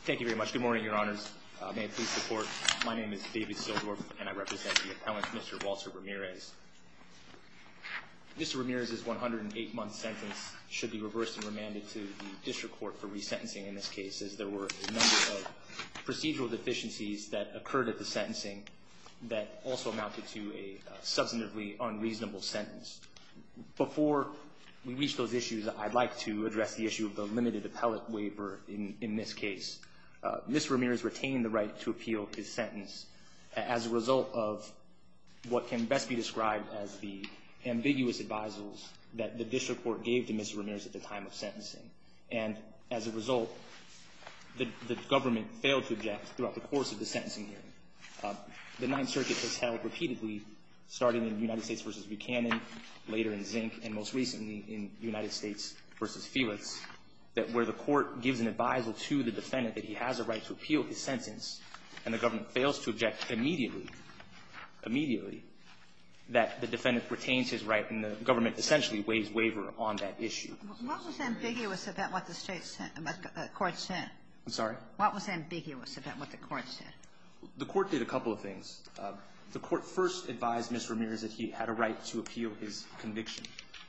Thank you very much. Good morning, your honors. May it please the court. My name is David Sildorf, and I represent the appellant, Mr. Walter Ramirez. Mr. Ramirez's 108-month sentence should be reversed and remanded to the district court for resentencing in this case, as there were a number of procedural deficiencies that occurred at the sentencing that also amounted to a substantively unreasonable sentence. Before we reach those issues, I'd like to address the issue of the limited appellate waiver in this case. Mr. Ramirez retained the right to appeal his sentence as a result of what can best be described as the ambiguous advisals that the district court gave to Mr. Ramirez at the time of sentencing. And as a result, the government failed to object throughout the course of the sentencing hearing. The Ninth Circuit has held repeatedly, starting in United States v. Buchanan, later in Zink, and most recently in United States v. Felix, that where the court gives an advisal to the defendant that he has a right to appeal his sentence and the government fails to object immediately, immediately, that the defendant retains his right and the government essentially waives waiver on that issue. Kagan What was ambiguous about what the court said? Ramirez I'm sorry? Kagan What was ambiguous about what the court said? Ramirez The court did a couple of things. The court first advised Mr. Ramirez that he had a right to appeal his conviction.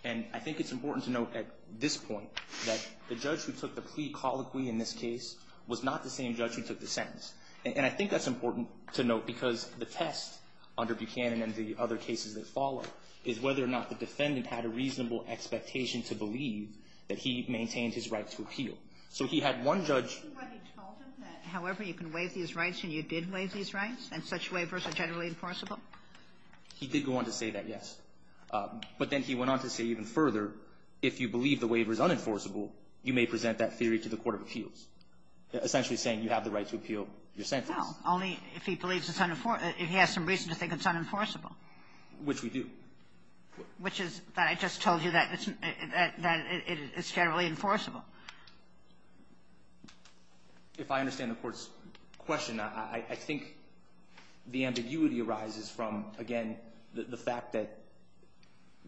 And I think it's important to note at this point that the judge who took the plea colloquy in this case was not the same judge who took the sentence. And I think that's important to note because the test under Buchanan and the other cases that follow is whether or not the defendant had a reasonable expectation to believe that he maintained his right to appeal. So he had one judge ---- Kagan I think what he told him that however you can waive these rights and you did waive these rights and such waivers are generally enforceable? Ramirez He did go on to say that, yes. But then he went on to say even further, if you believe the waiver is unenforceable, you may present that theory to the court of appeals, essentially saying you have the right to appeal your sentence. Kagan Well, only if he believes it's unenforceable or if he has some reason to think it's unenforceable. Ramirez Which we do. Kagan Which is that I just told you that it's generally enforceable. Ramirez If I understand the Court's question, I think the ambiguity arises from, again, the fact that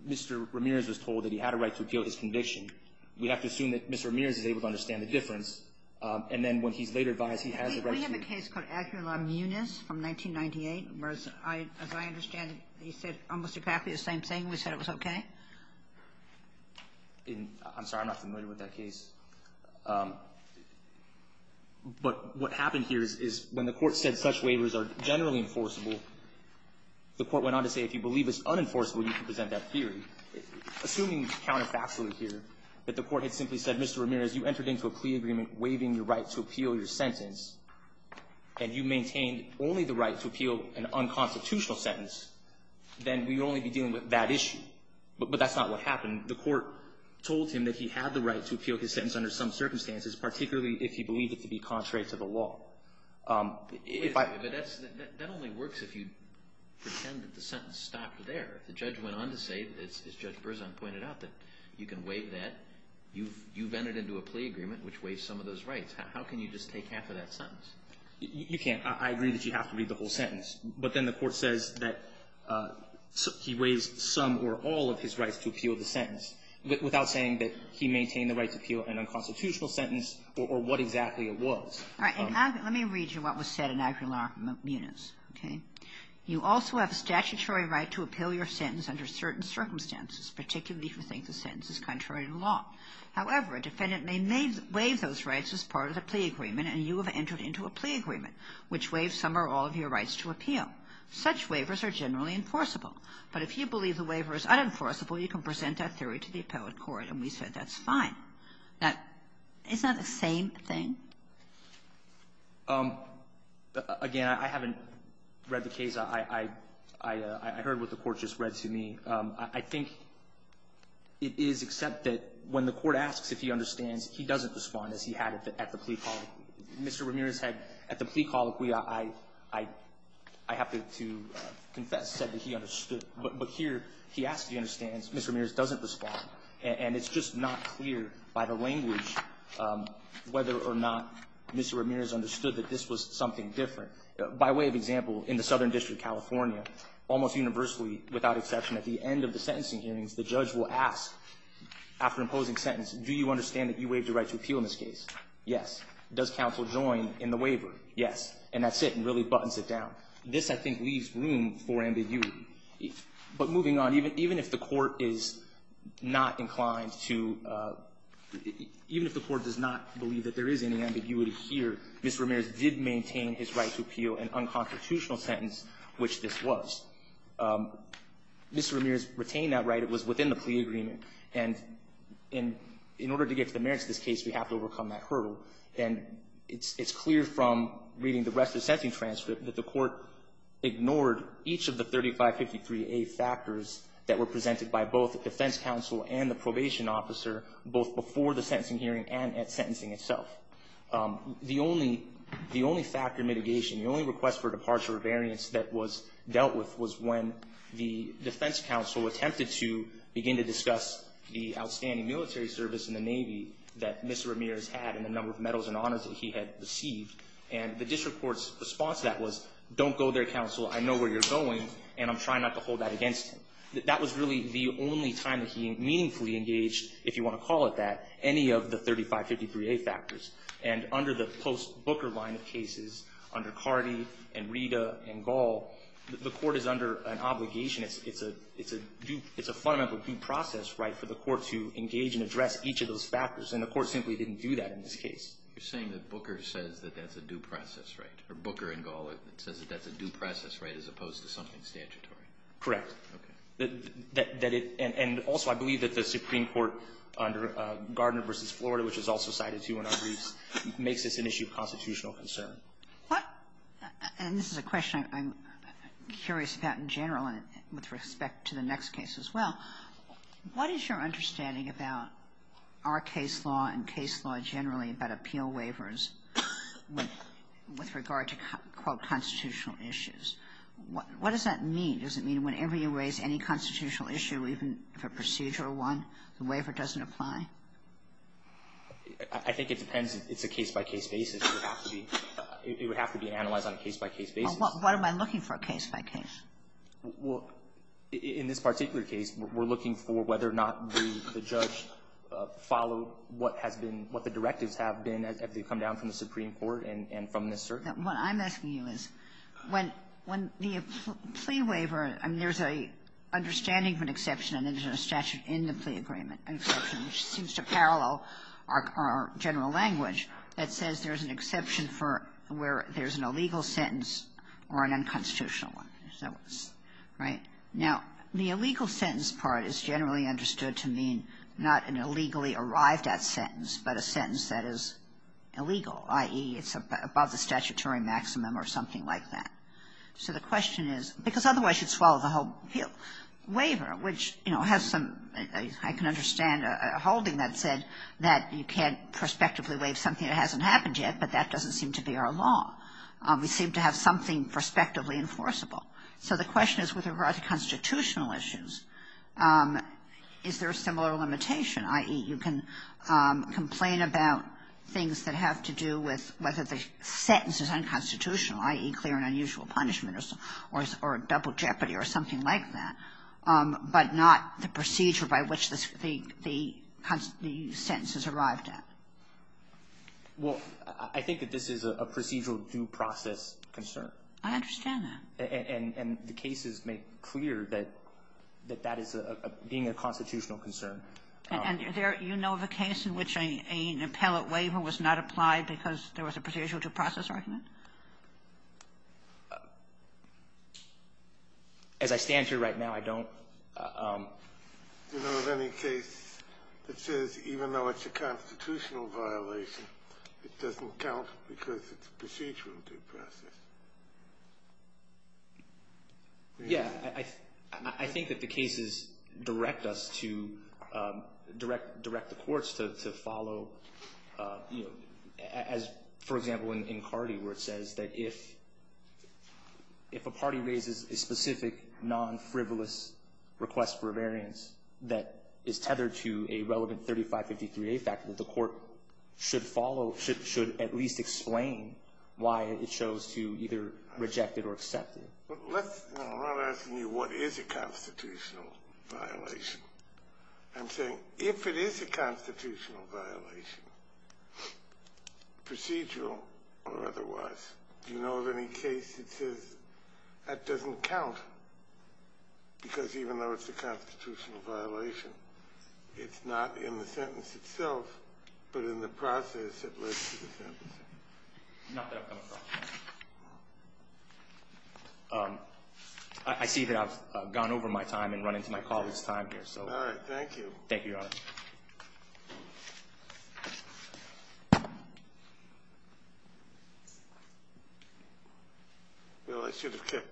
Mr. Ramirez was told that he had a right to appeal his conviction. We have to assume that Mr. Ramirez is able to understand the difference. And then when he's later advised he has the right to ---- Ginsburg We have a case called Aguilar-Muniz from 1998 where, as I understand it, he said almost exactly the same thing. We said it was okay. Ramirez I'm sorry. I'm not familiar with that case. But what happened here is when the Court said such waivers are generally enforceable, the Court went on to say if you believe it's unenforceable, you can present that theory. Assuming counterfactually here that the Court had simply said, Mr. Ramirez, you entered into a plea agreement waiving your right to appeal your sentence, and you maintained only the right to appeal an unconstitutional sentence, then we would only be dealing with that issue. But that's not what happened. The Court told him that he had the right to appeal his sentence under some circumstances, particularly if he believed it to be contrary to the law. If I ---- Alito That only works if you pretend that the sentence stopped there. If the judge went on to say, as Judge Berzon pointed out, that you can waive that, you vented into a plea agreement which waives some of those rights. How can you just take half of that sentence? Ramirez You can't. I agree that you have to read the whole sentence. But then the Court says that he waived some or all of his rights to appeal the sentence without saying that he maintained the right to appeal an unconstitutional sentence or what exactly it was. Kagan All right. Let me read you what was said in AgriLaw, Muniz. Okay? You also have a statutory right to appeal your sentence under certain circumstances, particularly if you think the sentence is contrary to the law. However, a defendant may waive those rights as part of the plea agreement, and you have entered into a plea agreement which waives some or all of your rights to appeal. Such waivers are generally enforceable. But if you believe the waiver is unenforceable, you can present that theory to the appellate court. And we said that's fine. Now, isn't that the same thing? Ramirez Again, I haven't read the case. I heard what the Court just read to me. I think it is except that when the Court asks if he understands, he doesn't respond as he had at the plea call. Mr. Ramirez had, at the plea call, I have to confess, said that he understood. But here he asks if he understands. Mr. Ramirez doesn't respond. And it's just not clear by the language whether or not Mr. Ramirez understood that this was something different. By way of example, in the Southern District, California, almost universally without exception, at the end of the sentencing hearings, the judge will ask, after imposing sentence, do you understand that you waived the right to appeal in this case? Yes. Does counsel join in the waiver? Yes. And that's it, and really buttons it down. This, I think, leaves room for ambiguity. But moving on, even if the Court is not inclined to — even if the Court does not believe that there is any ambiguity here, Mr. Ramirez did maintain his right to appeal an unconstitutional sentence, which this was. Mr. Ramirez retained that right. It was within the plea agreement. And in order to get to the merits of this case, we have to overcome that hurdle. And it's clear from reading the rest of the sentencing transcript that the Court ignored each of the 3553A factors that were presented by both the defense counsel and the probation officer, both before the sentencing hearing and at sentencing itself. The only factor mitigation, the only request for departure or variance that was dealt with was when the defense counsel attempted to begin to discuss the outstanding military service in the Navy that Mr. Ramirez had and the number of medals and honors that he had received. And the district court's response to that was, don't go there, counsel. I know where you're going, and I'm trying not to hold that against him. That was really the only time that he meaningfully engaged, if you want to call it that, any of the 3553A factors. And under the post-Booker line of cases, under Cardi and Rita and Gall, the Court is under an obligation. It's a fundamental due process right for the Court to engage and address each of those factors, and the Court simply didn't do that in this case. You're saying that Booker says that that's a due process right, or Booker and Gall says that that's a due process right as opposed to something statutory? Correct. Okay. That it – and also I believe that the Supreme Court under Gardner v. Florida, which is also cited too in our briefs, makes this an issue of constitutional concern. What – and this is a question I'm curious about in general and with respect to the next case as well. What is your understanding about our case law and case law generally about appeal waivers with regard to, quote, constitutional issues? What does that mean? Does it mean whenever you raise any constitutional issue, even if a procedure doesn't apply? I think it depends. It's a case-by-case basis. It would have to be analyzed on a case-by-case basis. What am I looking for case-by-case? Well, in this particular case, we're looking for whether or not the judge followed what has been – what the directives have been as they've come down from the Supreme Court and from this circuit. What I'm asking you is when the plea waiver – I mean, there's an understanding of an exception and there's a statute in the plea agreement, an exception, which seems to parallel our general language that says there's an exception for where there's an illegal sentence or an unconstitutional one. Right? Now, the illegal sentence part is generally understood to mean not an illegally arrived at sentence, but a sentence that is illegal, i.e., it's above the statutory maximum or something like that. So the question is – because otherwise you'd swallow the whole waiver, which, you know, has some – I can understand a holding that said that you can't prospectively waive something that hasn't happened yet, but that doesn't seem to be our law. We seem to have something prospectively enforceable. So the question is with regard to constitutional issues, is there a similar limitation, i.e., you can complain about things that have to do with whether the sentence is unconstitutional, i.e., clear and unusual punishment or double jeopardy or something like that, but not the procedure by which the sentence is arrived at? Well, I think that this is a procedural due process concern. I understand that. And the cases make clear that that is a – being a constitutional concern. And you know of a case in which an appellate waiver was not applied because there was a procedural due process argument? As I stand here right now, I don't. Do you know of any case that says even though it's a constitutional violation, it doesn't count because it's a procedural due process? Yeah. I think that the cases direct us to – direct the courts to follow, you know, as, for example, in Cardi where it says that if a party raises a specific non-frivolous request for a variance that is tethered to a relevant 3553A factor, that the court should follow – should at least explain why it chose to either reject it or accept it. But let's – I'm not asking you what is a constitutional violation. I'm saying if it is a constitutional violation, procedural or otherwise, do you know of any case that says that doesn't count because even though it's a constitutional violation, it's not in the sentence itself, but in the process that led to the sentence? Not that I've come across. I see that I've gone over my time and run into my colleague's time here. All right. Thank you. Thank you, Your Honor. Well, I should have kept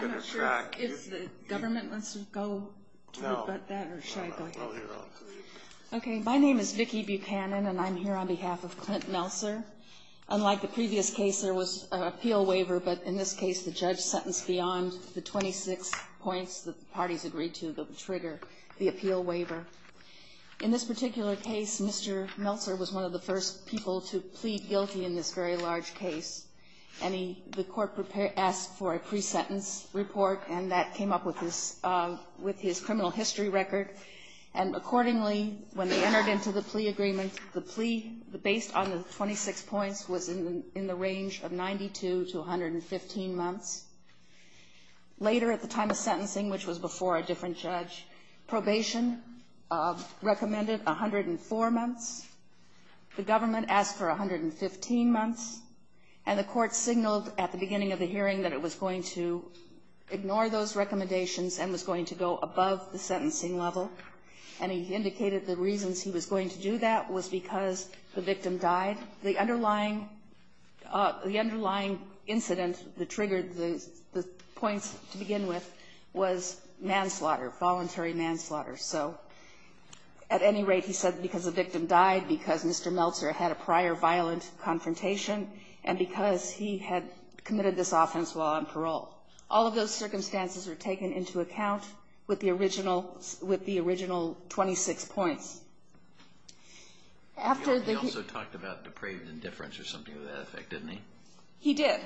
better track. I'm not sure if the government wants to go to it about that or should I go ahead? No. My name is Vicki Buchanan, and I'm here on behalf of Clint Meltzer. Unlike the previous case, there was an appeal waiver, but in this case, the judge sentenced beyond the 26 points that the parties agreed to that would trigger the appeal waiver. In this particular case, Mr. Meltzer was one of the first people to plead guilty in this very large case, and he – the court prepared – asked for a pre-sentence report, and that came up with his – with his criminal history record. And accordingly, when they entered into the plea agreement, the plea, based on the 26 points, was in the range of 92 to 115 months. Later, at the time of sentencing, which was before a different judge, probation recommended 104 months. The government asked for 115 months, and the court signaled at the beginning of the recommendations and was going to go above the sentencing level. And he indicated the reasons he was going to do that was because the victim died. The underlying – the underlying incident that triggered the points to begin with was manslaughter, voluntary manslaughter. So at any rate, he said because the victim died, because Mr. Meltzer had a prior violent confrontation, and because he had committed this offense while on parole. All of those circumstances were taken into account with the original – with the original 26 points. After the – He also talked about depraved indifference or something of that effect, didn't he? He did.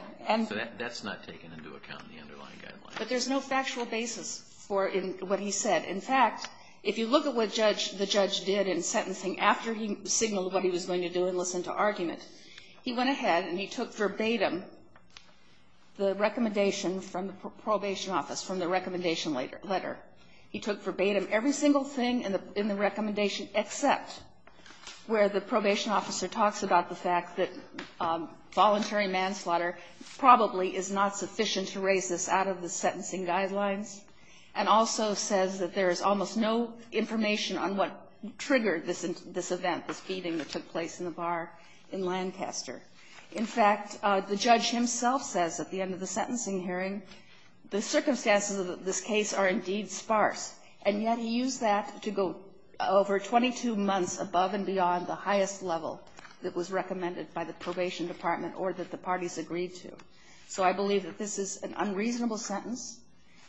So that's not taken into account in the underlying guidelines. But there's no factual basis for what he said. In fact, if you look at what the judge did in sentencing after he signaled what he was going to do and listened to argument, he went ahead and he took verbatim the recommendation from the probation office, from the recommendation letter. He took verbatim every single thing in the recommendation except where the probation officer talks about the fact that voluntary manslaughter probably is not sufficient to raise this out of the sentencing guidelines, and also says that there is almost no information on what triggered this event, this beating that took place in the bar in Lancaster. In fact, the judge himself says at the end of the sentencing hearing, the circumstances of this case are indeed sparse. And yet he used that to go over 22 months above and beyond the highest level that was recommended by the probation department or that the parties agreed to. So I believe that this is an unreasonable sentence.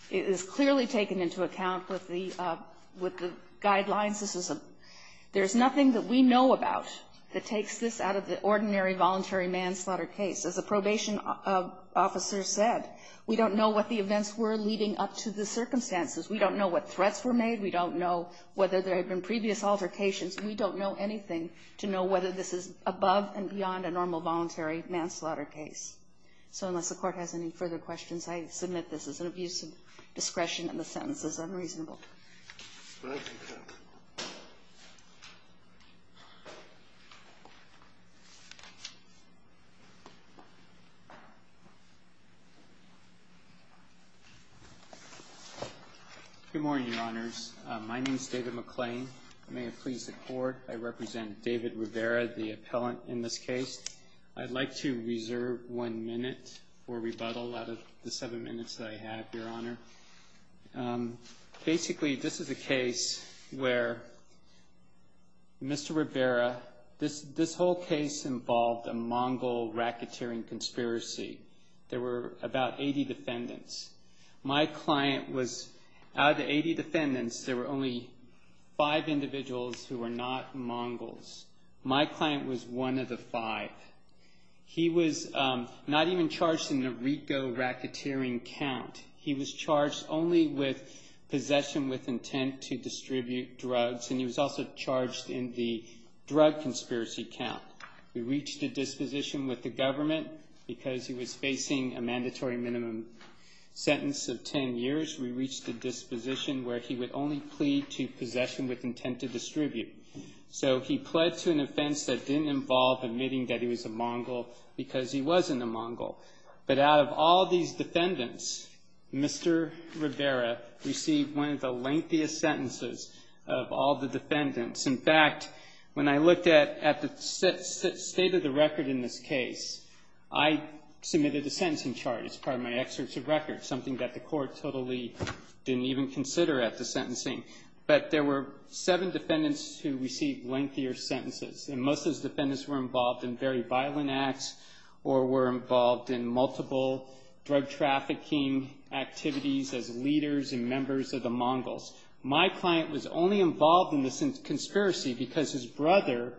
It is clearly taken into account with the – with the guidelines. This is a – there's nothing that we know about that takes this out of the ordinary voluntary manslaughter case. As the probation officer said, we don't know what the events were leading up to the circumstances. We don't know what threats were made. We don't know whether there had been previous altercations. We don't know anything to know whether this is above and beyond a normal voluntary manslaughter case. So unless the Court has any further questions, I submit this is an abuse of discretion and the sentence is unreasonable. Thank you, Your Honor. Good morning, Your Honors. My name is David McClain. May it please the Court, I represent David Rivera, the appellant in this case. I'd like to reserve one minute for rebuttal out of the seven minutes that I have, Your Honor. Basically, this is a case where Mr. Rivera – this whole case involved a Mongol racketeering conspiracy. There were about 80 defendants. My client was – out of the 80 defendants, there were only five individuals who were not Mongols. My client was one of the five. He was not even charged in the RICO racketeering count. He was charged only with possession with intent to distribute drugs, and he was also charged in the drug conspiracy count. We reached a disposition with the government because he was facing a mandatory minimum sentence of 10 years. We reached a disposition where he would only plead to possession with intent to distribute. So he pled to an offense that didn't involve admitting that he was a Mongol because he wasn't a Mongol. But out of all these defendants, Mr. Rivera received one of the lengthiest sentences of all the defendants. In fact, when I looked at the state of the record in this case, I submitted a sentencing charge as part of my excerpts of record, something that the court totally didn't even consider at the sentencing. But there were seven defendants who received lengthier sentences, and most of those drug trafficking activities as leaders and members of the Mongols. My client was only involved in this conspiracy because his brother,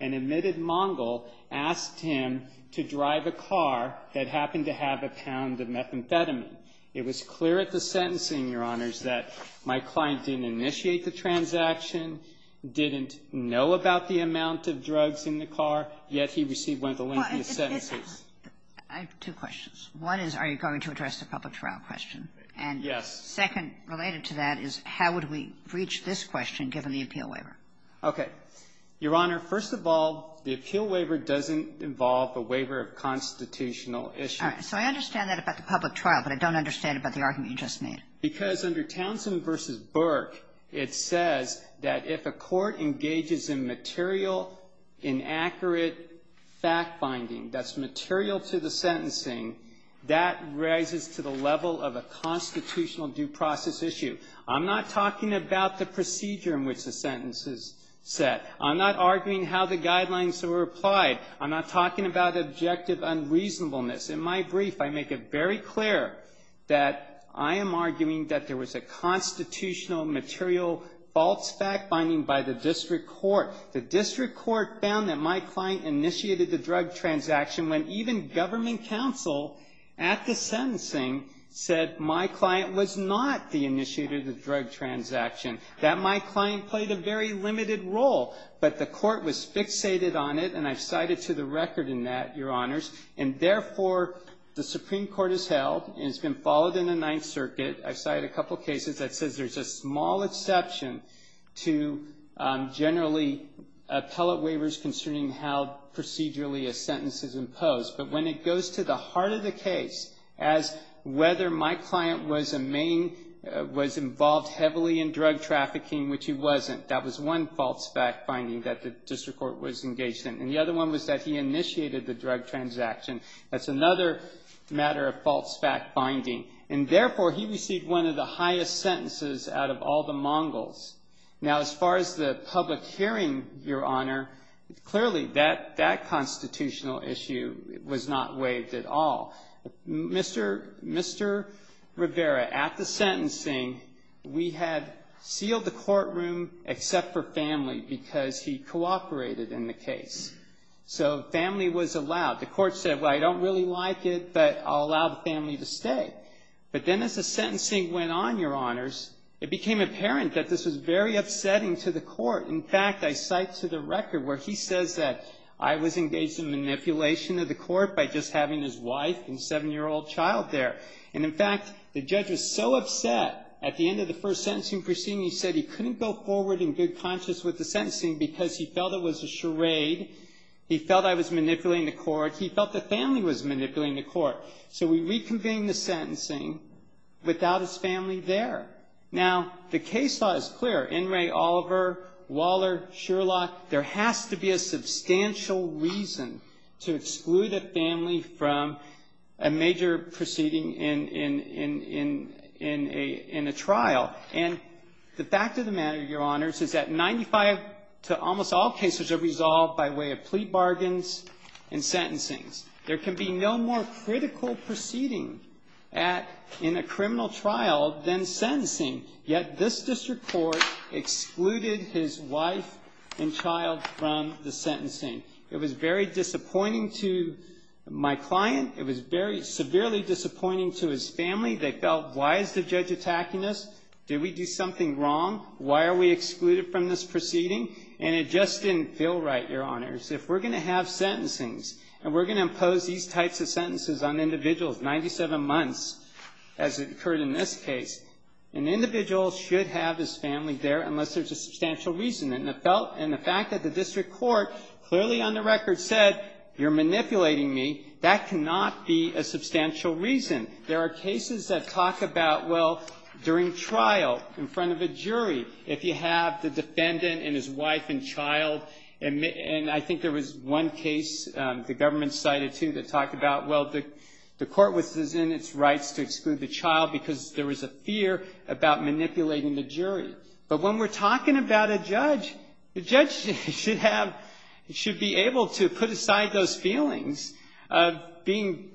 an admitted Mongol, asked him to drive a car that happened to have a pound of methamphetamine. It was clear at the sentencing, Your Honors, that my client didn't initiate the transaction, didn't know about the amount of drugs in the car, yet he received one of the lengthiest sentences. I have two questions. One is, are you going to address the public trial question? Yes. And second, related to that, is how would we reach this question given the appeal waiver? Okay. Your Honor, first of all, the appeal waiver doesn't involve a waiver of constitutional issues. All right. So I understand that about the public trial, but I don't understand about the argument you just made. Because under Townsend v. Burke, it says that if a court engages in material, inaccurate fact-binding that's material to the sentencing, that rises to the level of a constitutional due process issue. I'm not talking about the procedure in which the sentence is set. I'm not arguing how the guidelines were applied. I'm not talking about objective unreasonableness. In my brief, I make it very clear that I am arguing that there was a constitutional material false fact-binding by the district court. The district court found that my client initiated the drug transaction when even government counsel at the sentencing said my client was not the initiator of the drug transaction, that my client played a very limited role. But the court was fixated on it, and I've cited to the record in that, Your Honors. And therefore, the Supreme Court has held, and it's been followed in the Ninth Circuit. I've cited a couple cases that says there's a small exception to generally appellate waivers concerning how procedurally a sentence is imposed. But when it goes to the heart of the case as whether my client was a main, was involved heavily in drug trafficking, which he wasn't, that was one false fact-binding that the district court was engaged in. And the other one was that he initiated the drug transaction. That's another matter of false fact-binding. And therefore, he received one of the highest sentences out of all the Mongols. Now, as far as the public hearing, Your Honor, clearly that constitutional issue was not waived at all. Mr. Rivera, at the sentencing, we had sealed the courtroom except for family because he cooperated in the case. So family was allowed. The court said, well, I don't really like it, but I'll allow the family to stay. But then as the sentencing went on, Your Honors, it became apparent that this was very upsetting to the court. In fact, I cite to the record where he says that I was engaged in manipulation of the court by just having his wife and seven-year-old child there. And in fact, the judge was so upset at the end of the first sentencing proceeding, he said he couldn't go forward in good conscience with the sentencing because he felt it was a charade. He felt I was manipulating the court. He felt the family was manipulating the court. So we reconvened the sentencing without his family there. Now, the case law is clear. In re Oliver, Waller, Sherlock, there has to be a substantial reason to exclude a family from a major proceeding in a trial. And the fact of the matter, Your Honors, is that 95 to almost all cases are conducted by way of plea bargains and sentencing. There can be no more critical proceeding in a criminal trial than sentencing, yet this district court excluded his wife and child from the sentencing. It was very disappointing to my client. It was very severely disappointing to his family. They felt, why is the judge attacking us? Did we do something wrong? Why are we excluded from this proceeding? And it just didn't feel right, Your Honors. If we're going to have sentencings and we're going to impose these types of sentences on individuals, 97 months as it occurred in this case, an individual should have his family there unless there's a substantial reason. And the fact that the district court clearly on the record said you're manipulating me, that cannot be a substantial reason. There are cases that talk about, well, during trial in front of a jury, if you have the defendant and his wife and child, and I think there was one case the government cited, too, that talked about, well, the court was in its rights to exclude the child because there was a fear about manipulating the jury. But when we're talking about a judge, the judge should be able to put aside those feelings of feeling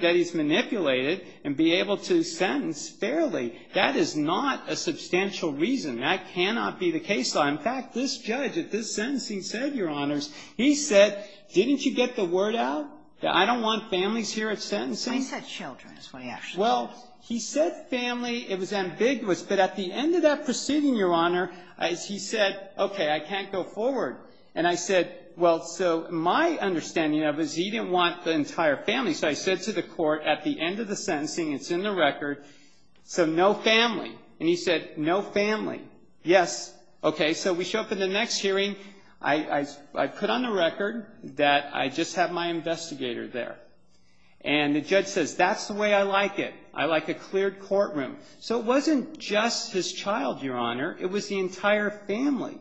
that he's manipulated and be able to sentence fairly. That is not a substantial reason. That cannot be the case law. In fact, this judge at this sentencing said, Your Honors, he said, didn't you get the word out that I don't want families here at sentencing? I said children is what he actually said. Well, he said family. It was ambiguous. But at the end of that proceeding, Your Honor, he said, okay, I can't go forward. And I said, well, so my understanding of it is he didn't want the entire family. So I said to the court at the end of the sentencing, it's in the record, so no family. And he said, no family. Yes. Okay. So we show up at the next hearing. I put on the record that I just have my investigator there. And the judge says, that's the way I like it. I like a cleared courtroom. So it wasn't just his child, Your Honor. It was the entire family.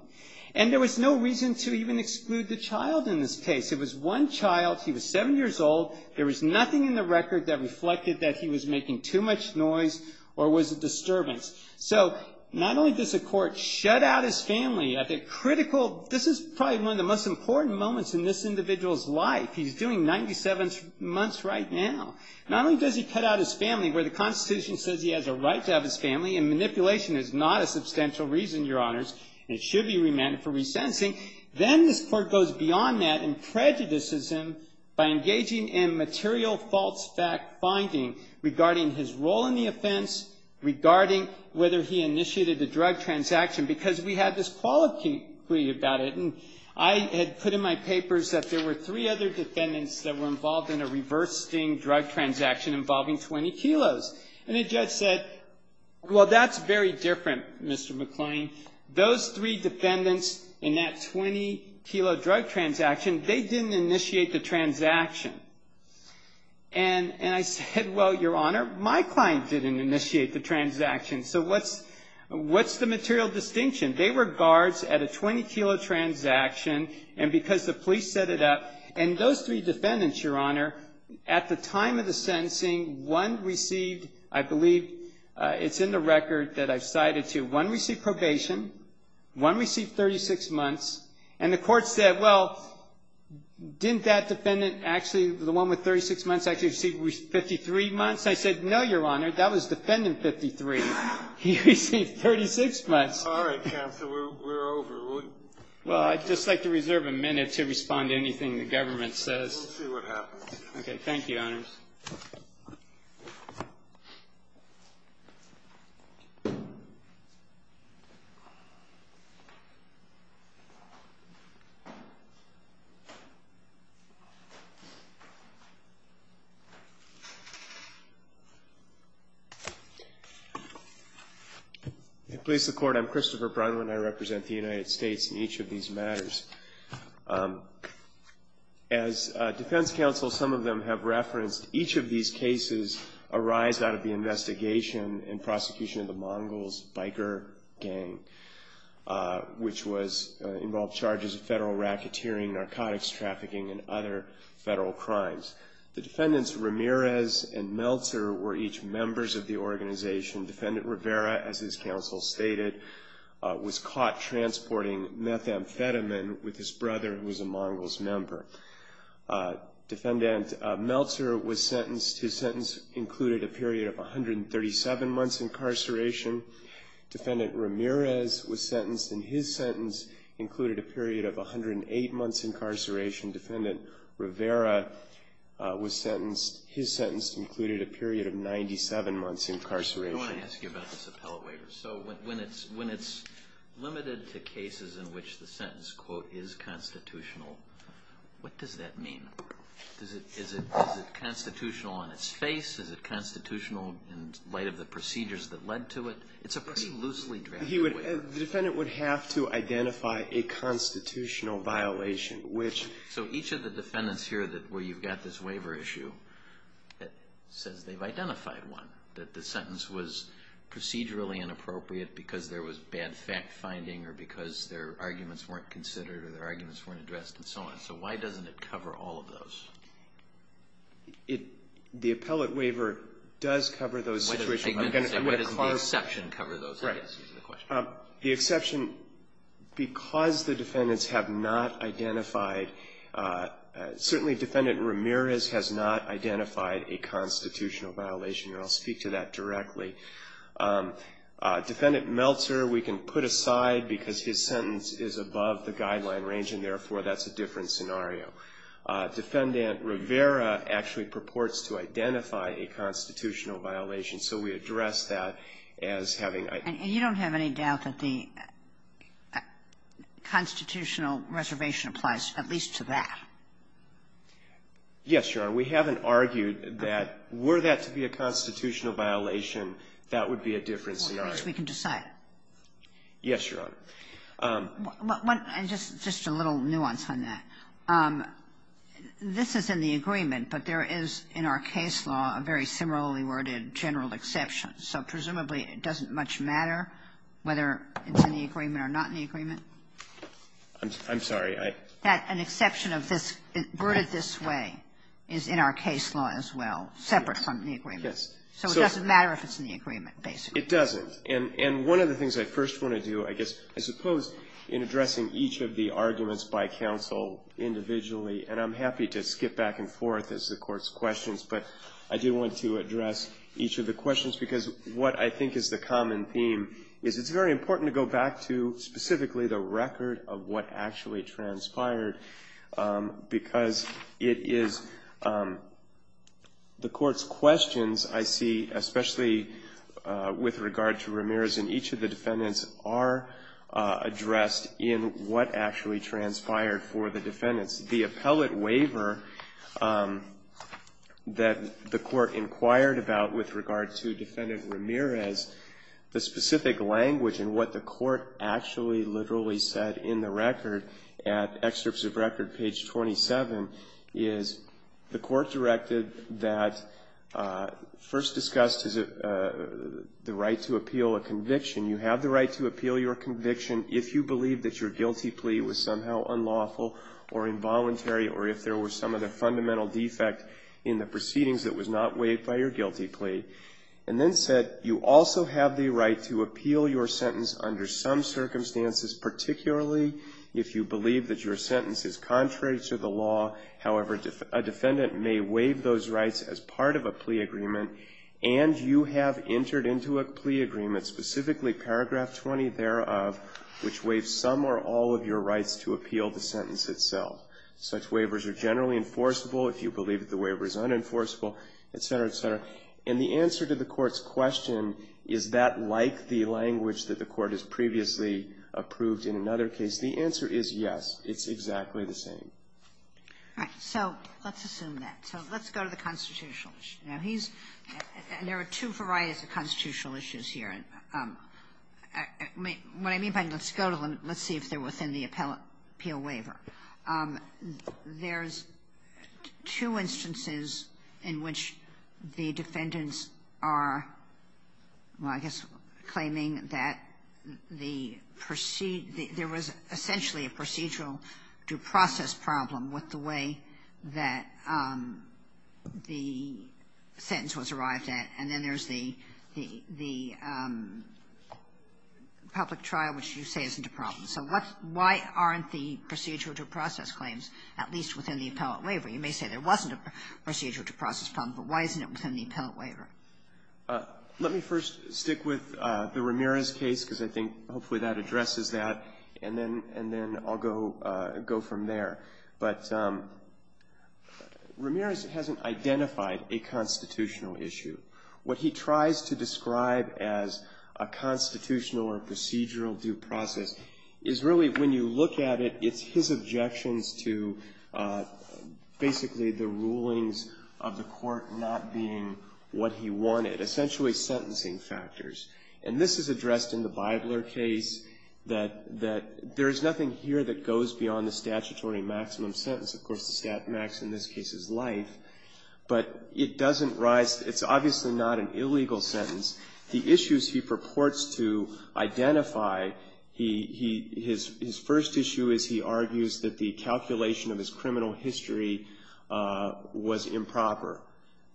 And there was no reason to even exclude the child in this case. It was one child. He was 7 years old. There was nothing in the record that reflected that he was making too much noise or was a disturbance. So not only does the court shut out his family at the critical, this is probably one of the most important moments in this individual's life. He's doing 97 months right now. Not only does he cut out his family where the Constitution says he has a right to have his family, and manipulation is not a substantial reason, Your Honors, and it should be remanded for resentencing. Then this court goes beyond that and prejudices him by engaging in material false fact finding regarding his role in the offense, regarding whether he initiated the drug transaction, because we had this quality about it. And I had put in my papers that there were three other defendants that were involved in a reverse sting drug transaction involving 20 kilos. And the judge said, well, that's very different, Mr. McClain. Those three defendants in that 20-kilo drug transaction, they didn't initiate the transaction. And I said, well, Your Honor, my client didn't initiate the transaction. So what's the material distinction? They were guards at a 20-kilo transaction, and because the police set it up, and those three defendants, Your Honor, at the time of the sentencing, one received, I believe, it's in the record that I've cited to, one received probation, one received 36 months, and the court said, well, didn't that defendant actually, the one with 36 months, actually receive 53 months? I said, no, Your Honor, that was defendant 53. He received 36 months. All right, counsel, we're over. Well, I'd just like to reserve a minute to respond to anything the government says. We'll see what happens. Okay. Thank you, Your Honors. Thank you, Your Honors. Police, the Court, I'm Christopher Brunwyn. I represent the United States in each of these matters. As defense counsel, some of them have referenced, each of these cases arise out of the investigation and prosecution of the Mongols biker gang, which involved charges of federal racketeering, narcotics trafficking, and other federal crimes. The defendants Ramirez and Meltzer were each members of the organization. Defendant Rivera, as his counsel stated, was caught transporting methamphetamine with his brother, who was a Mongols member. Defendant Meltzer was sentenced. His sentence included a period of 137 months incarceration. Defendant Ramirez was sentenced, and his sentence included a period of 108 months incarceration. Defendant Rivera was sentenced. His sentence included a period of 97 months incarceration. I want to ask you about this appellate waiver. So when it's limited to cases in which the sentence, quote, is constitutional, what does that mean? Is it constitutional on its face? Is it constitutional in light of the procedures that led to it? It's a pretty loosely drafted waiver. The defendant would have to identify a constitutional violation, which So each of the defendants here where you've got this waiver issue that says they've identified one, that the sentence was procedurally inappropriate because there was bad fact-finding or because their arguments weren't considered or their arguments weren't addressed and so on. So why doesn't it cover all of those? The appellate waiver does cover those situations. Why doesn't the exception cover those cases? The exception, because the defendants have not identified, certainly Defendant Ramirez has not identified a constitutional violation, and I'll speak to that directly. Defendant Meltzer we can put aside because his sentence is above the guideline range, and therefore that's a different scenario. Defendant Rivera actually purports to identify a constitutional violation, so we address that as having And you don't have any doubt that the constitutional reservation applies at least to that? Yes, Your Honor. We haven't argued that were that to be a constitutional violation, that would be a different scenario. As far as we can decide. Yes, Your Honor. And just a little nuance on that. This is in the agreement, but there is in our case law a very similarly worded general exception, so presumably it doesn't much matter whether it's in the agreement or not in the agreement. I'm sorry. An exception of this worded this way is in our case law as well, separate from the agreement. Yes. So it doesn't matter if it's in the agreement, basically. It doesn't. And one of the things I first want to do, I guess, I suppose in addressing each of the questions, because what I think is the common theme is it's very important to go back to specifically the record of what actually transpired, because it is the Court's questions I see, especially with regard to Ramirez and each of the defendants, are addressed in what actually transpired for the defendants. The appellate waiver that the Court inquired about with regard to Defendant Ramirez, the specific language and what the Court actually literally said in the record at excerpts of record, page 27, is the Court directed that first discussed the right to appeal a conviction. You have the right to appeal your conviction if you believe that your guilty plea was somehow unlawful or involuntary or if there were some other fundamental defect in the proceedings that was not waived by your guilty plea, and then said you also have the right to appeal your sentence under some circumstances, particularly if you believe that your sentence is contrary to the law. However, a defendant may waive those rights as part of a plea agreement, and you have entered into a plea agreement, specifically paragraph 20 thereof, which waives some or all of your rights to appeal the sentence itself. Such waivers are generally enforceable if you believe that the waiver is unenforceable, et cetera, et cetera. And the answer to the Court's question, is that like the language that the Court has previously approved in another case, the answer is yes. It's exactly the same. All right. So let's assume that. So let's go to the constitutional issue. Now, he's – and there are two varieties of constitutional issues here. What I mean by let's go to them, let's see if they're within the appeal waiver. There's two instances in which the defendants are, well, I guess claiming that the – there was essentially a procedural due process problem with the way that the sentence was arrived at, and then there's the – the public trial, which you say isn't a problem. So what's – why aren't the procedural due process claims at least within the appellate waiver? You may say there wasn't a procedural due process problem, but why isn't it within the appellate waiver? Let me first stick with the Ramirez case, because I think hopefully that addresses that, and then – and then I'll go – go from there. But Ramirez hasn't identified a constitutional issue. What he tries to describe as a constitutional or procedural due process is really, when you look at it, it's his objections to basically the rulings of the court not being what he wanted, essentially sentencing factors. And this is addressed in the Bybler case, that – that there is nothing here that goes beyond the statutory maximum sentence. Of course, the stat max in this case is life, but it doesn't rise – it's obviously not an illegal sentence. The issues he purports to identify, he – his – his first issue is he argues that the sentence is improper.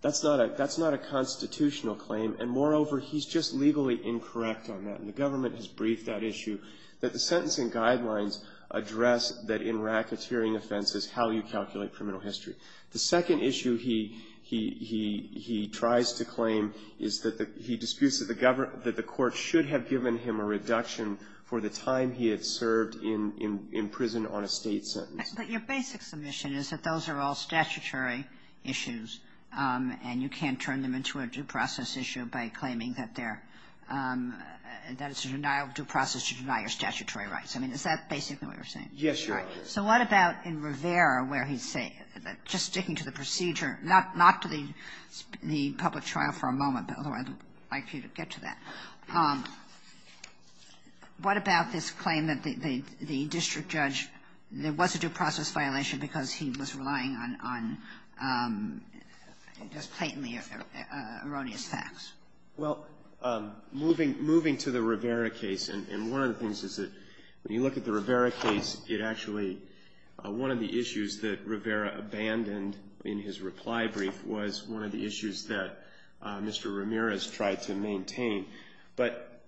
That's not a – that's not a constitutional claim, and moreover, he's just legally incorrect on that. And the government has briefed that issue, that the sentencing guidelines address that in racketeering offenses, how you calculate criminal history. The second issue he – he – he tries to claim is that the – he disputes that the government – that the court should have given him a reduction for the time he had served in – in prison on a State sentence. Kagan. But your basic submission is that those are all statutory issues, and you can't turn them into a due process issue by claiming that they're – that it's a denial – due process to deny your statutory rights. I mean, is that basically what you're saying? Yes, Your Honor. All right. So what about in Rivera, where he's saying – just sticking to the procedure, not – not to the – the public trial for a moment, but I would like you to get to that. What about this claim that the – the district judge – there was a due process violation because he was relying on – on just blatantly erroneous facts? Well, moving – moving to the Rivera case, and – and one of the things is that when you look at the Rivera case, it actually – one of the issues that Rivera abandoned in his reply brief was one of the issues that Mr. Ramirez tried to maintain but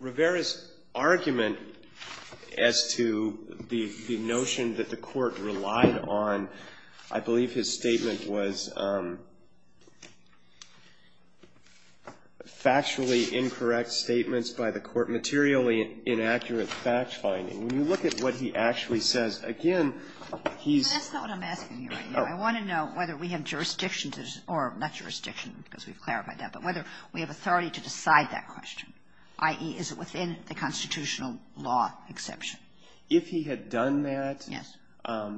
Rivera's argument as to the – the notion that the court relied on, I believe his statement was factually incorrect statements by the court, materially inaccurate fact-finding. When you look at what he actually says, again, he's – Well, that's not what I'm asking you right now. Oh. I want to know whether we have jurisdiction to – or not jurisdiction, because we've clarified that, but whether we have authority to decide that question, i.e., is it within the constitutional law exception? If he had done that,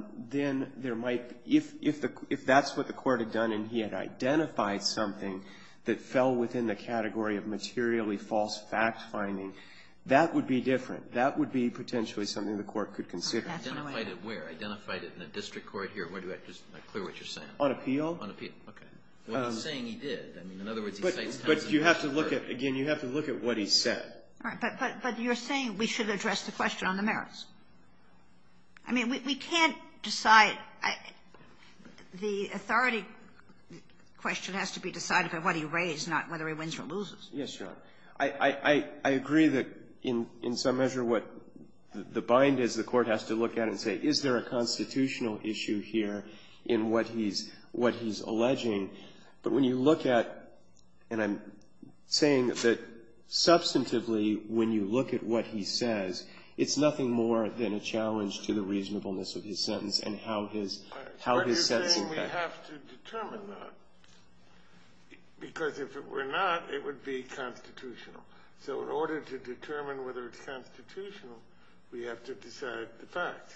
then there might – if – if the – if that's what the court had done and he had identified something that fell within the category of materially false fact-finding, that would be different. That would be potentially something the court could consider. Identified it where? Identified it in the district court here? Or do I just not clear what you're saying? On appeal. On appeal. Okay. What he's saying he did. I mean, in other words, he states it as an assertion. But you have to look at – again, you have to look at what he said. All right. But you're saying we should address the question on the merits. I mean, we can't decide – the authority question has to be decided by what he raised, not whether he wins or loses. Yes, Your Honor. I agree that in some measure what the bind is, the court has to look at it and say, is there a constitutional issue here in what he's alleging? But when you look at – and I'm saying that substantively when you look at what he says, it's nothing more than a challenge to the reasonableness of his sentence and how his sentence – All right. Why do you think we have to determine that? Because if it were not, it would be constitutional. So in order to determine whether it's constitutional, we have to decide the facts.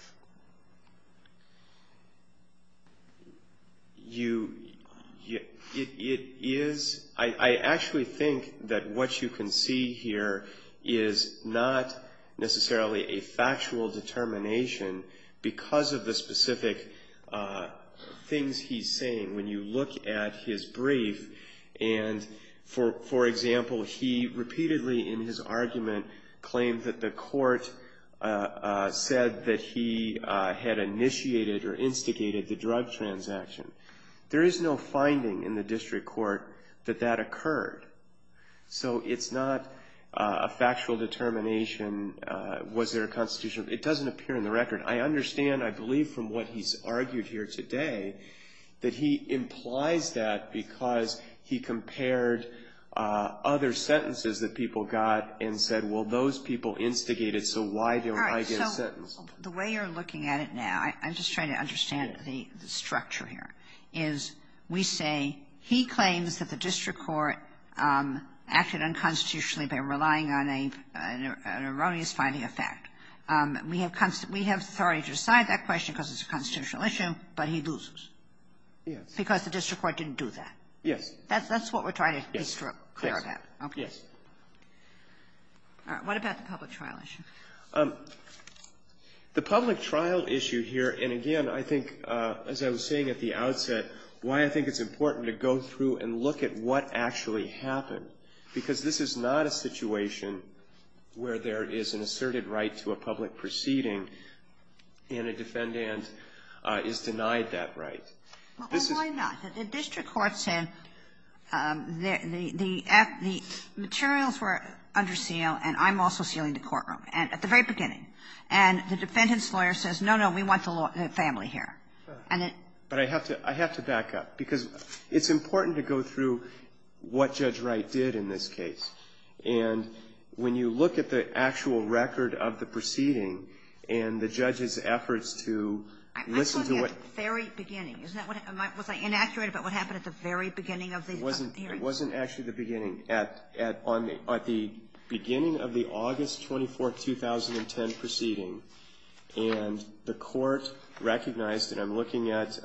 You – it is – I actually think that what you can see here is not necessarily a factual determination because of the specific things he's saying. When you look at his brief and, for example, he repeatedly in his argument claimed that the court said that he had initiated or instigated the drug transaction. There is no finding in the district court that that occurred. So it's not a factual determination. Was there a constitutional – it doesn't appear in the record. I understand, I believe, from what he's argued here today that he implies that because he compared other sentences that people got and said, well, those people instigated, so why don't I get a sentence? All right. So the way you're looking at it now, I'm just trying to understand the structure here, is we say he claims that the district court acted unconstitutionally by relying on an erroneous finding of fact. We have – we have authority to decide that question because it's a constitutional issue, but he loses. Yes. Because the district court didn't do that. Yes. That's what we're trying to be clear about. Yes. Okay. Yes. All right. What about the public trial issue? The public trial issue here, and again, I think, as I was saying at the outset, why I think it's important to go through and look at what actually happened, because this is not a situation where there is an asserted right to a public proceeding and a defendant is denied that right. Well, why not? The district court said the materials were under seal and I'm also sealing the courtroom at the very beginning. And the defendant's lawyer says, no, no, we want the family here. But I have to back up because it's important to go through what Judge Wright did in this case. And when you look at the actual record of the proceeding and the judge's efforts to listen to what — I'm talking at the very beginning. Isn't that what — was I inaccurate about what happened at the very beginning of the hearing? It wasn't actually the beginning. At the beginning of the August 24th, 2010, proceeding, and the court recognized that I'm looking at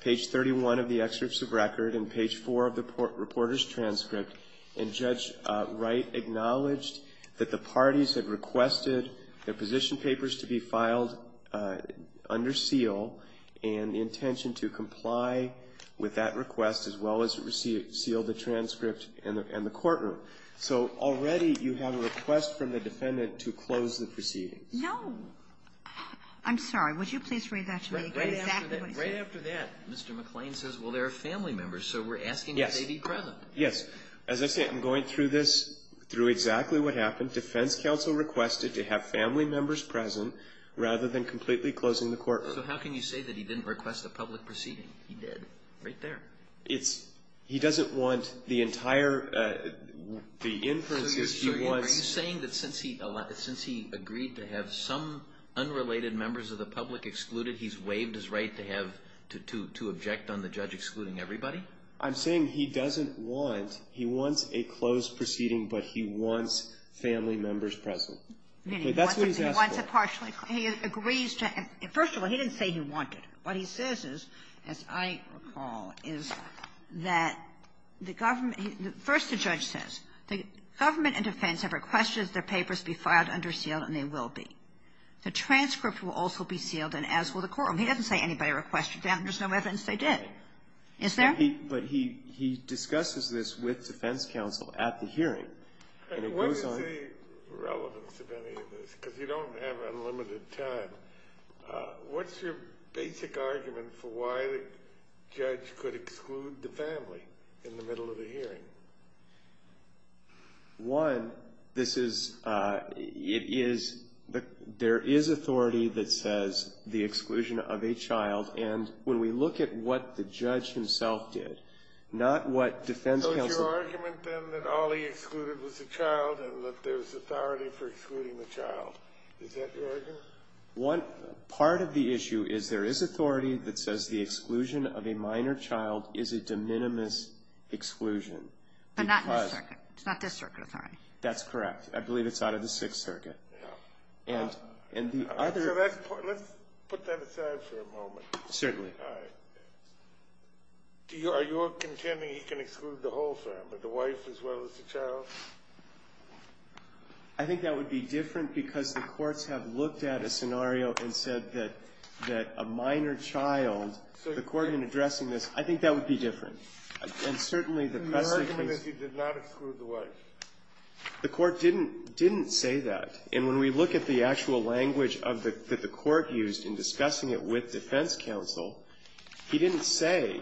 page 31 of the excerpts of record and page 4 of the reporter's transcript, and Judge Wright acknowledged that the parties had requested their position papers to be filed under seal and the intention to comply with that request as well as seal the transcript and the courtroom. So already you have a request from the defendant to close the proceedings. No. I'm sorry. Would you please read that to me exactly? Right after that, Mr. McClain says, well, there are family members, so we're asking that they be present. Yes. Yes. As I say, I'm going through this, through exactly what happened. Defense counsel requested to have family members present rather than completely closing the courtroom. So how can you say that he didn't request a public proceeding? He did. Right there. It's he doesn't want the entire, the inferences he wants. So you're saying that since he agreed to have some unrelated members of the public excluded, he's waived his right to have, to object on the judge excluding everybody? I'm saying he doesn't want, he wants a closed proceeding, but he wants family members present. Okay. That's what he's asking. He wants a partially closed. He agrees to, first of all, he didn't say he wanted. What he says is, as I recall, is that the government, first the judge says, the government and defense have requested that their papers be filed under seal, and they will be. The transcript will also be sealed, and as will the courtroom. He doesn't say anybody requested them. There's no evidence they did. Is there? But he, he discusses this with defense counsel at the hearing. And it goes on. What is the relevance of any of this? Because you don't have unlimited time. What's your basic argument for why the judge could exclude the family in the middle of a hearing? One, this is, it is, there is authority that says the exclusion of a child. And when we look at what the judge himself did, not what defense counsel. So it's your argument then that all he excluded was the child and that there's authority for excluding the child. Is that your argument? Well, one, part of the issue is there is authority that says the exclusion of a minor child is a de minimis exclusion. But not in this circuit. It's not this circuit authority. That's correct. I believe it's out of the Sixth Circuit. Yeah. And, and the other. So that's, let's put that aside for a moment. Certainly. All right. Do you, are you contending he can exclude the whole family, the wife as well as the child? I think that would be different because the courts have looked at a scenario and said that, that a minor child, the court in addressing this, I think that would be different. And certainly the precedent. The argument is he did not exclude the wife. The court didn't, didn't say that. And when we look at the actual language of the, that the court used in discussing it with defense counsel, he didn't say.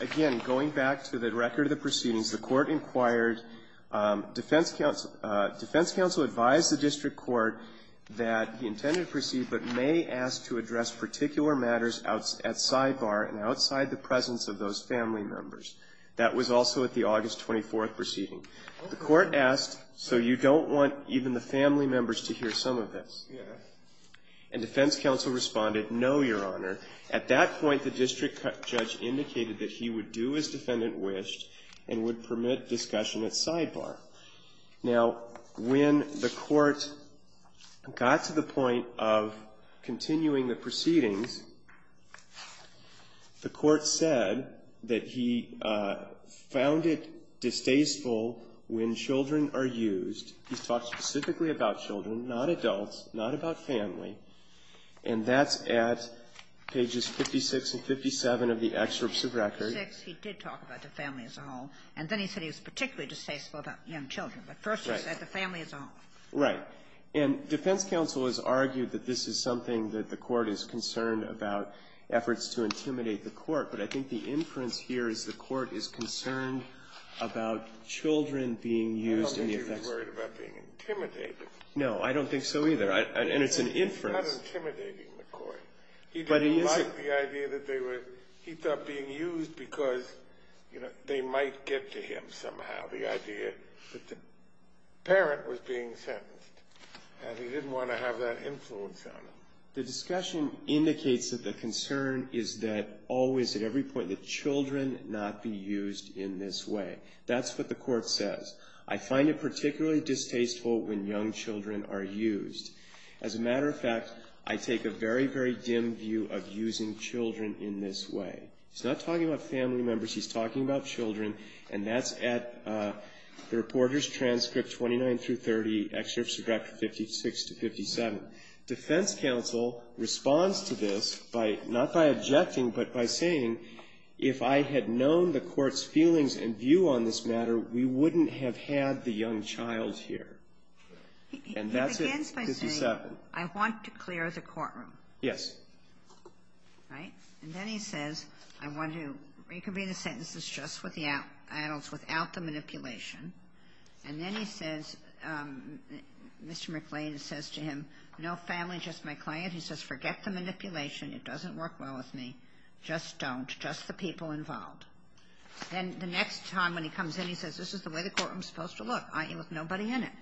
Again, going back to the record of the proceedings, the court inquired, defense counsel, defense counsel advised the district court that he intended to proceed but may ask to address particular matters at sidebar and outside the presence of those family members. That was also at the August 24th proceeding. The court asked, so you don't want even the family members to hear some of this? Yes. And defense counsel responded, no, Your Honor. At that point, the district judge indicated that he would do as defendant wished and would permit discussion at sidebar. Now, when the court got to the point of continuing the proceedings, the court said that he found it distasteful when children are used. He talked specifically about children, not adults, not about family. And that's at pages 56 and 57 of the excerpts of record. In 56, he did talk about the family as a whole. And then he said he was particularly distasteful about young children. But first he said the family as a whole. Right. And defense counsel has argued that this is something that the court is concerned about, efforts to intimidate the court. But I think the inference here is the court is concerned about children being used in the effects. I don't think he was worried about being intimidated. No, I don't think so either. And it's an inference. He's not intimidating the court. He didn't like the idea that they were, he thought, being used because, you know, they might get to him somehow. The idea that the parent was being sentenced. And he didn't want to have that influence on them. The discussion indicates that the concern is that always at every point that children not be used in this way. That's what the court says. I find it particularly distasteful when young children are used. As a matter of fact, I take a very, very dim view of using children in this way. He's not talking about family members. He's talking about children. And that's at the reporter's transcript, 29 through 30, Excerpts of Chapter 56 to 57. Defense counsel responds to this by, not by objecting, but by saying, if I had known the court's feelings and view on this matter, we wouldn't have had the young child here. And that's it. He begins by saying, I want to clear the courtroom. Yes. Right? And then he says, I want to reconvene the sentences just with the adults, without the manipulation. And then he says, Mr. McLean says to him, no family, just my client. He says, forget the manipulation. It doesn't work well with me. Just don't. Just the people involved. And the next time when he comes in, he says, this is the way the courtroom's supposed to look. With nobody in it.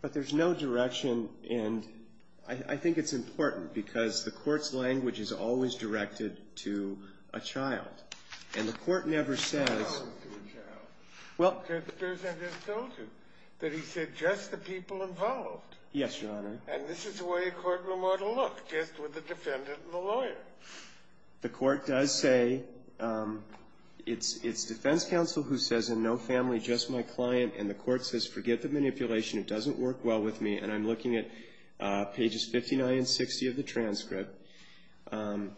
But there's no direction, and I think it's important, because the court's language is always directed to a child. And the court never says. Child to a child. Well. Because the person just told you, that he said, just the people involved. Yes, Your Honor. And this is the way a courtroom ought to look, just with the defendant and the lawyer. The court does say, it's defense counsel who says, and no family, just my client. And the court says, forget the manipulation. It doesn't work well with me. And I'm looking at pages 59 and 60 of the transcript. And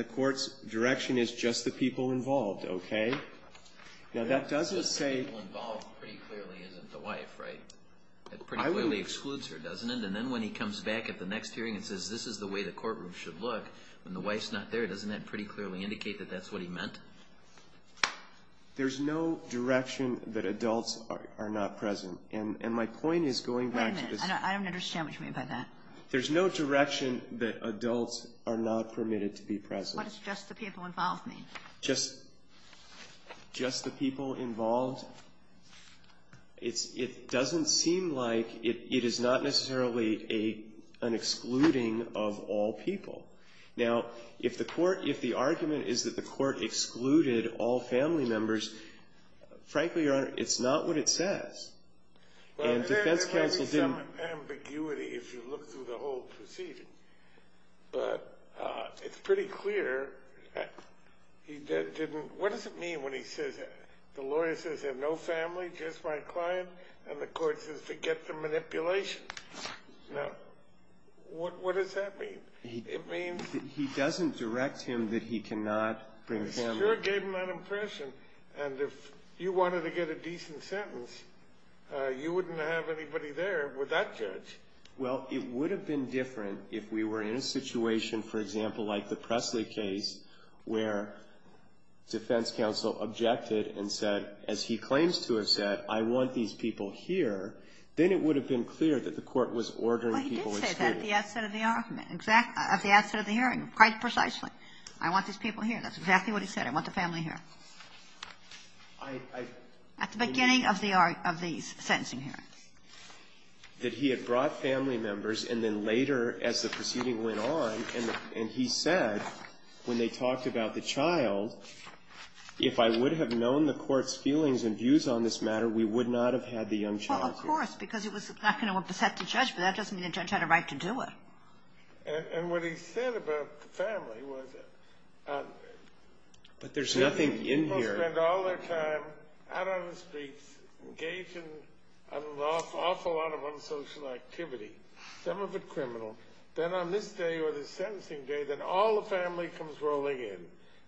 the court's direction is, just the people involved. Now, that doesn't say. Just the people involved, pretty clearly, isn't the wife, right? It pretty clearly excludes her, doesn't it? And then when he comes back at the next hearing and says, this is the way the courtroom should look. When the wife's not there, doesn't that pretty clearly indicate that that's what he meant? There's no direction that adults are not present. And my point is going back to this. Wait a minute. I don't understand what you mean by that. There's no direction that adults are not permitted to be present. What does just the people involved mean? Just the people involved. It doesn't seem like it is not necessarily an excluding of all people. Now, if the court, if the argument is that the court excluded all family members, frankly, Your Honor, it's not what it says. And defense counsel didn't. Well, there is some ambiguity if you look through the whole proceeding. But it's pretty clear he didn't, what does it mean when he says, the lawyer says, there's no family, just my client. And the court says, forget the manipulation. Now, what does that mean? It means that he doesn't direct him that he cannot bring family. It sure gave him that impression. And if you wanted to get a decent sentence, you wouldn't have anybody there with that judge. Well, it would have been different if we were in a situation, for example, like the Presley case where defense counsel objected and said, as he claims to have said, I want these people here. Then it would have been clear that the court was ordering people excluded. At the outset of the argument. At the outset of the hearing, quite precisely. I want these people here. That's exactly what he said. I want the family here. At the beginning of the sentencing hearing. That he had brought family members, and then later, as the proceeding went on, and he said, when they talked about the child, if I would have known the court's feelings and views on this matter, we would not have had the young child here. Well, of course, because it was not going to upset the judge. But that doesn't mean the judge had a right to do it. And what he said about the family was. But there's nothing in here. People spend all their time out on the streets, engaged in an awful lot of unsocial activity. Some of it criminal. Then on this day or the sentencing day, then all the family comes rolling in.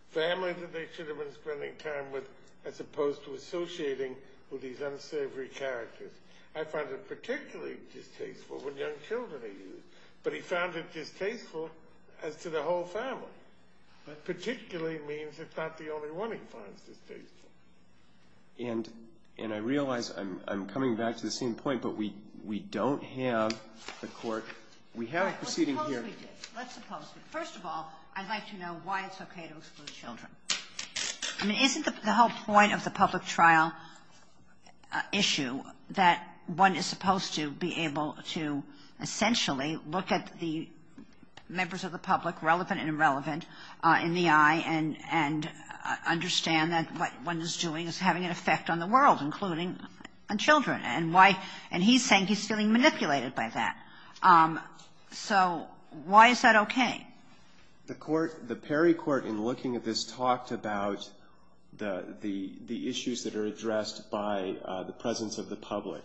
Family that they should have been spending time with, as opposed to associating with these unsavory characters. I find it particularly distasteful when young children are used. But he found it distasteful as to the whole family. That particularly means it's not the only one he finds distasteful. And I realize I'm coming back to the same point, but we don't have the court. We have a proceeding hearing. Let's suppose we did. Let's suppose we did. First of all, I'd like to know why it's okay to exclude children. I mean, isn't the whole point of the public trial issue that one is supposed to be able to essentially look at the members of the public, relevant and irrelevant, in the eye and understand that what one is doing is having an effect on the world, including on children? And why? And he's saying he's feeling manipulated by that. So why is that okay? The Perry court, in looking at this, talked about the issues that are addressed by the presence of the public.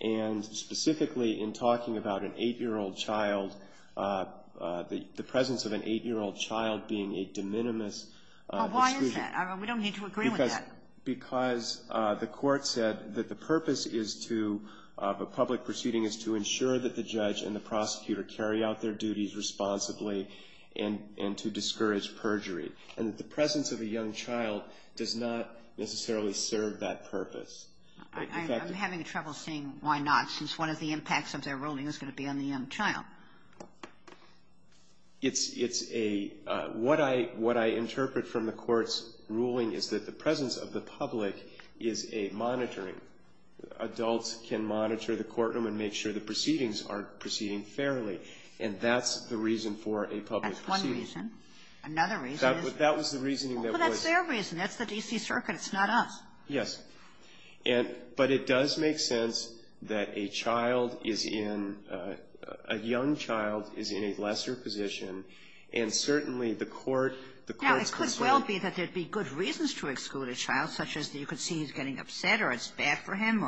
And specifically in talking about an 8-year-old child, the presence of an 8-year-old child being a de minimis exclusion. Well, why is that? We don't need to agree with that. Because the court said that the purpose of a public proceeding is to ensure that the judge and the prosecutor carry out their duties responsibly and to discourage perjury. And the presence of a young child does not necessarily serve that purpose. I'm having trouble seeing why not, since one of the impacts of their ruling is going to be on the young child. It's a — what I interpret from the court's ruling is that the presence of the public is a monitoring. Adults can monitor the courtroom and make sure the proceedings are proceeding fairly. And that's the reason for a public proceeding. That's one reason. Another reason is — That was the reasoning that was — Well, that's their reason. That's the D.C. Circuit. It's not us. Yes. And — but it does make sense that a child is in — a young child is in a lesser position, and certainly the court, the court's concern — Now, it could well be that there would be good reasons to exclude a child, such as that you could see he's getting upset or it's bad for him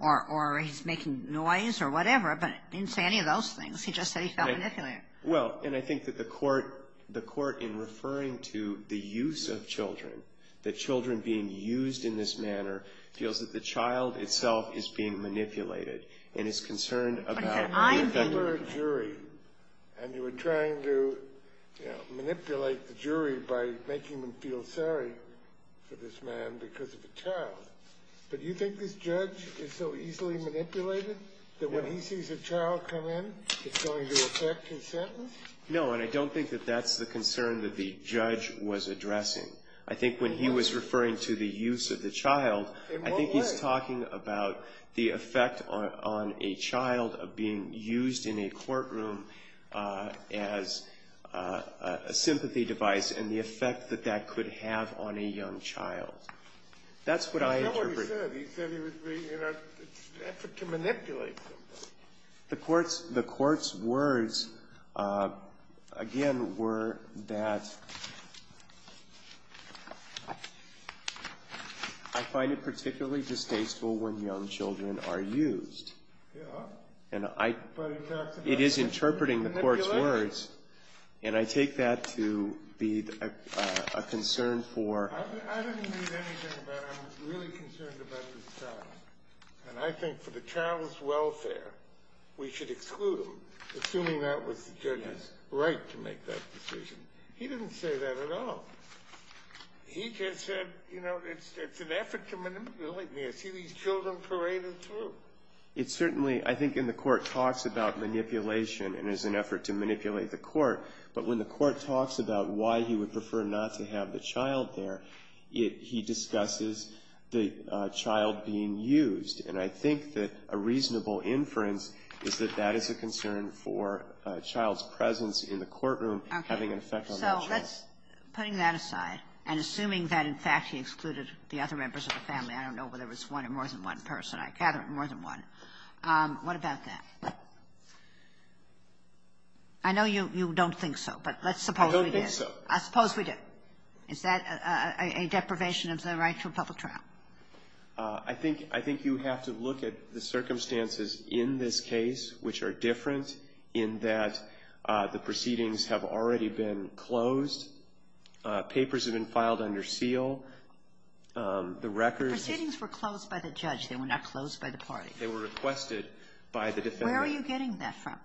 or he's making noise or whatever. But it didn't say any of those things. He just said he felt manipulated. Well, and I think that the court — the court, in referring to the use of children, that children being used in this manner, feels that the child itself is being manipulated and is concerned about — But he said, I'm being manipulated. And you were trying to, you know, manipulate the jury by making them feel sorry for this man because of a child. But do you think this judge is so easily manipulated that when he sees a child come in, it's going to affect his sentence? No, and I don't think that that's the concern that the judge was addressing. I think when he was referring to the use of the child — In what way? I think he's talking about the effect on a child of being used in a courtroom as a sympathy device and the effect that that could have on a young child. That's what I interpret. That's not what he said. He said he was being, you know, in an effort to manipulate somebody. The court's — the court's words, again, were that I find it particularly distasteful when young children are used. Yeah. And I — But he talks about — It is interpreting the court's words, and I take that to be a concern for — I didn't read anything about — I'm really concerned about this child. And I think for the child's welfare, we should exclude him, assuming that was the judge's right to make that decision. He didn't say that at all. He just said, you know, it's an effort to manipulate me. I see these children paraded through. It certainly — I think in the court talks about manipulation and there's an effort to manipulate the court. But when the court talks about why he would prefer not to have the child there, it — he discusses the child being used. And I think that a reasonable inference is that that is a concern for a child's presence in the courtroom having an effect on that child. Okay. So let's — putting that aside, and assuming that, in fact, he excluded the other members of the family, I don't know whether it was one or more than one person. I gather it was more than one. What about that? I know you don't think so, but let's suppose we do. I don't think so. I suppose we do. Is that a deprivation of the right to a public trial? I think — I think you have to look at the circumstances in this case, which are different, in that the proceedings have already been closed. Papers have been filed under seal. The records — The proceedings were closed by the judge. They were not closed by the parties. They were requested by the defendant. Where are you getting that from?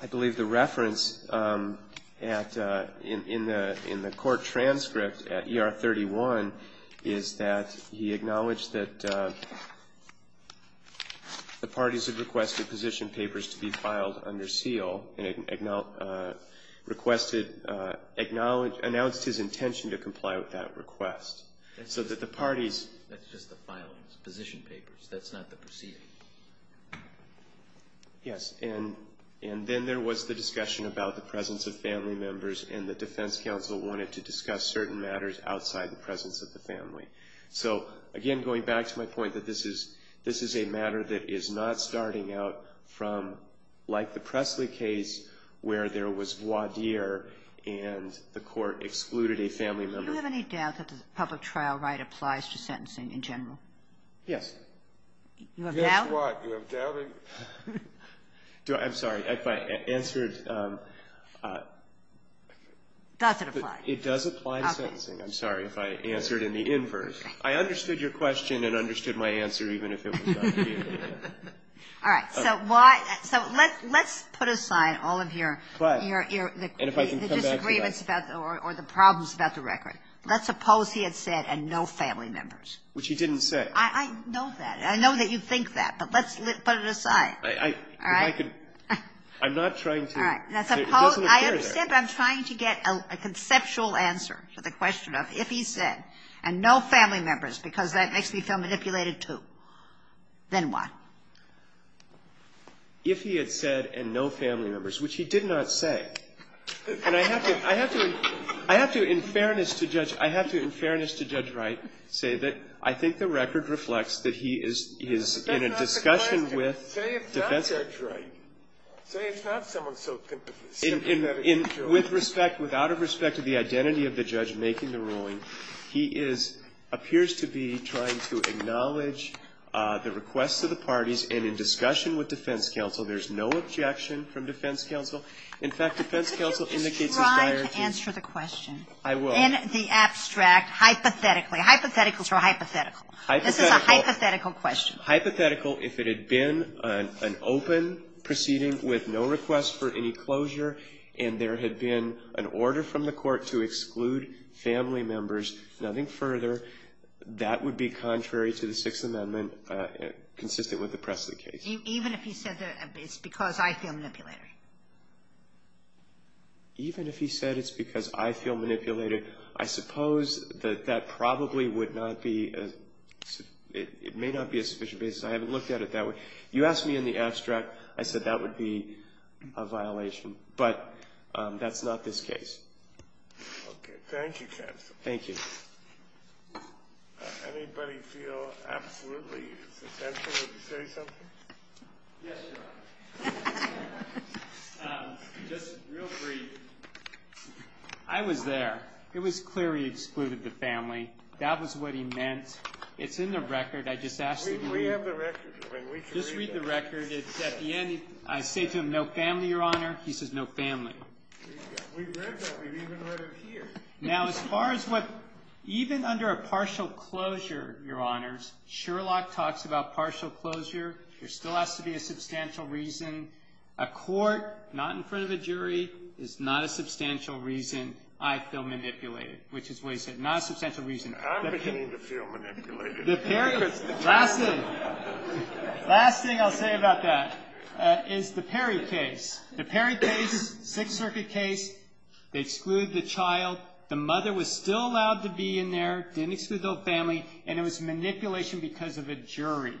I believe the reference at — in the court transcript at ER 31 is that he acknowledged that the parties had requested position papers to be filed under seal and announced his intention to comply with that request, so that the parties — That's just the filings, position papers. That's not the proceedings. Yes, and then there was the discussion about the presence of family members, and the defense counsel wanted to discuss certain matters outside the presence of the family. So, again, going back to my point that this is — this is a matter that is not starting out from, like the Presley case, where there was voir dire and the court excluded a family member. Do you have any doubt that the public trial right applies to sentencing in general? Yes. You have doubt? Yes, why? Do I have doubting? I'm sorry. If I answered — Does it apply? It does apply to sentencing. Okay. I'm sorry if I answered in the inverse. I understood your question and understood my answer, even if it was not clear. All right. So why — so let's put aside all of your — But —— your — the disagreements about — or the problems about the record. Let's suppose he had said, and no family members. Which he didn't say. I know that. I know that you think that, but let's put it aside. All right? If I could — I'm not trying to — All right. I understand, but I'm trying to get a conceptual answer to the question. If he had said, and no family members, because that makes me feel manipulated too, then what? If he had said, and no family members, which he did not say. And I have to — I have to — I have to, in fairness to Judge — I have to, in fairness to Judge Wright, say that I think the record reflects that he is — he is in a discussion with defense — But that's not the question. Say it's not someone so sympathetic — With respect — without respect to the identity of the judge making the ruling, he is — appears to be trying to acknowledge the requests of the parties, and in discussion with defense counsel, there's no objection from defense counsel. In fact, defense counsel indicates his dire — Could you just try to answer the question? I will. In the abstract, hypothetically. Hypotheticals are hypothetical. Hypothetical. This is a hypothetical question. Hypothetical. If it had been an open proceeding with no request for any closure, and there had been an order from the court to exclude family members, nothing further, that would be contrary to the Sixth Amendment, consistent with the Presley case. Even if he said it's because I feel manipulated? Even if he said it's because I feel manipulated, I suppose that that probably would not be — it may not be a sufficient basis. I haven't looked at it that way. You asked me in the abstract. I said that would be a violation. But that's not this case. Okay. Thank you, counsel. Thank you. Anybody feel absolutely essential to say something? Yes, Your Honor. Just real brief. I was there. It was clear he excluded the family. That was what he meant. It's in the record. I just asked that you read it. We have the record. Just read the record. It's at the end. I say to him, no family, Your Honor. He says, no family. We've read that. We've even read it here. Now, as far as what — even under a partial closure, Your Honors, Sherlock talks about partial closure. There still has to be a substantial reason. A court, not in front of a jury, is not a substantial reason I feel manipulated, which is what he said. Not a substantial reason. I'm beginning to feel manipulated. The Perry — Last thing. Last thing I'll say about that is the Perry case. The Perry case is a Sixth Circuit case. They exclude the child. The mother was still allowed to be in there. Didn't exclude the whole family. And it was manipulation because of a jury.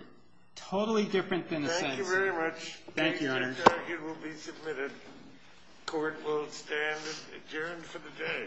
Totally different than the sentence. Thank you very much. Thank you, Your Honor. Sixth Circuit will be submitted. Court will stand adjourned for the day.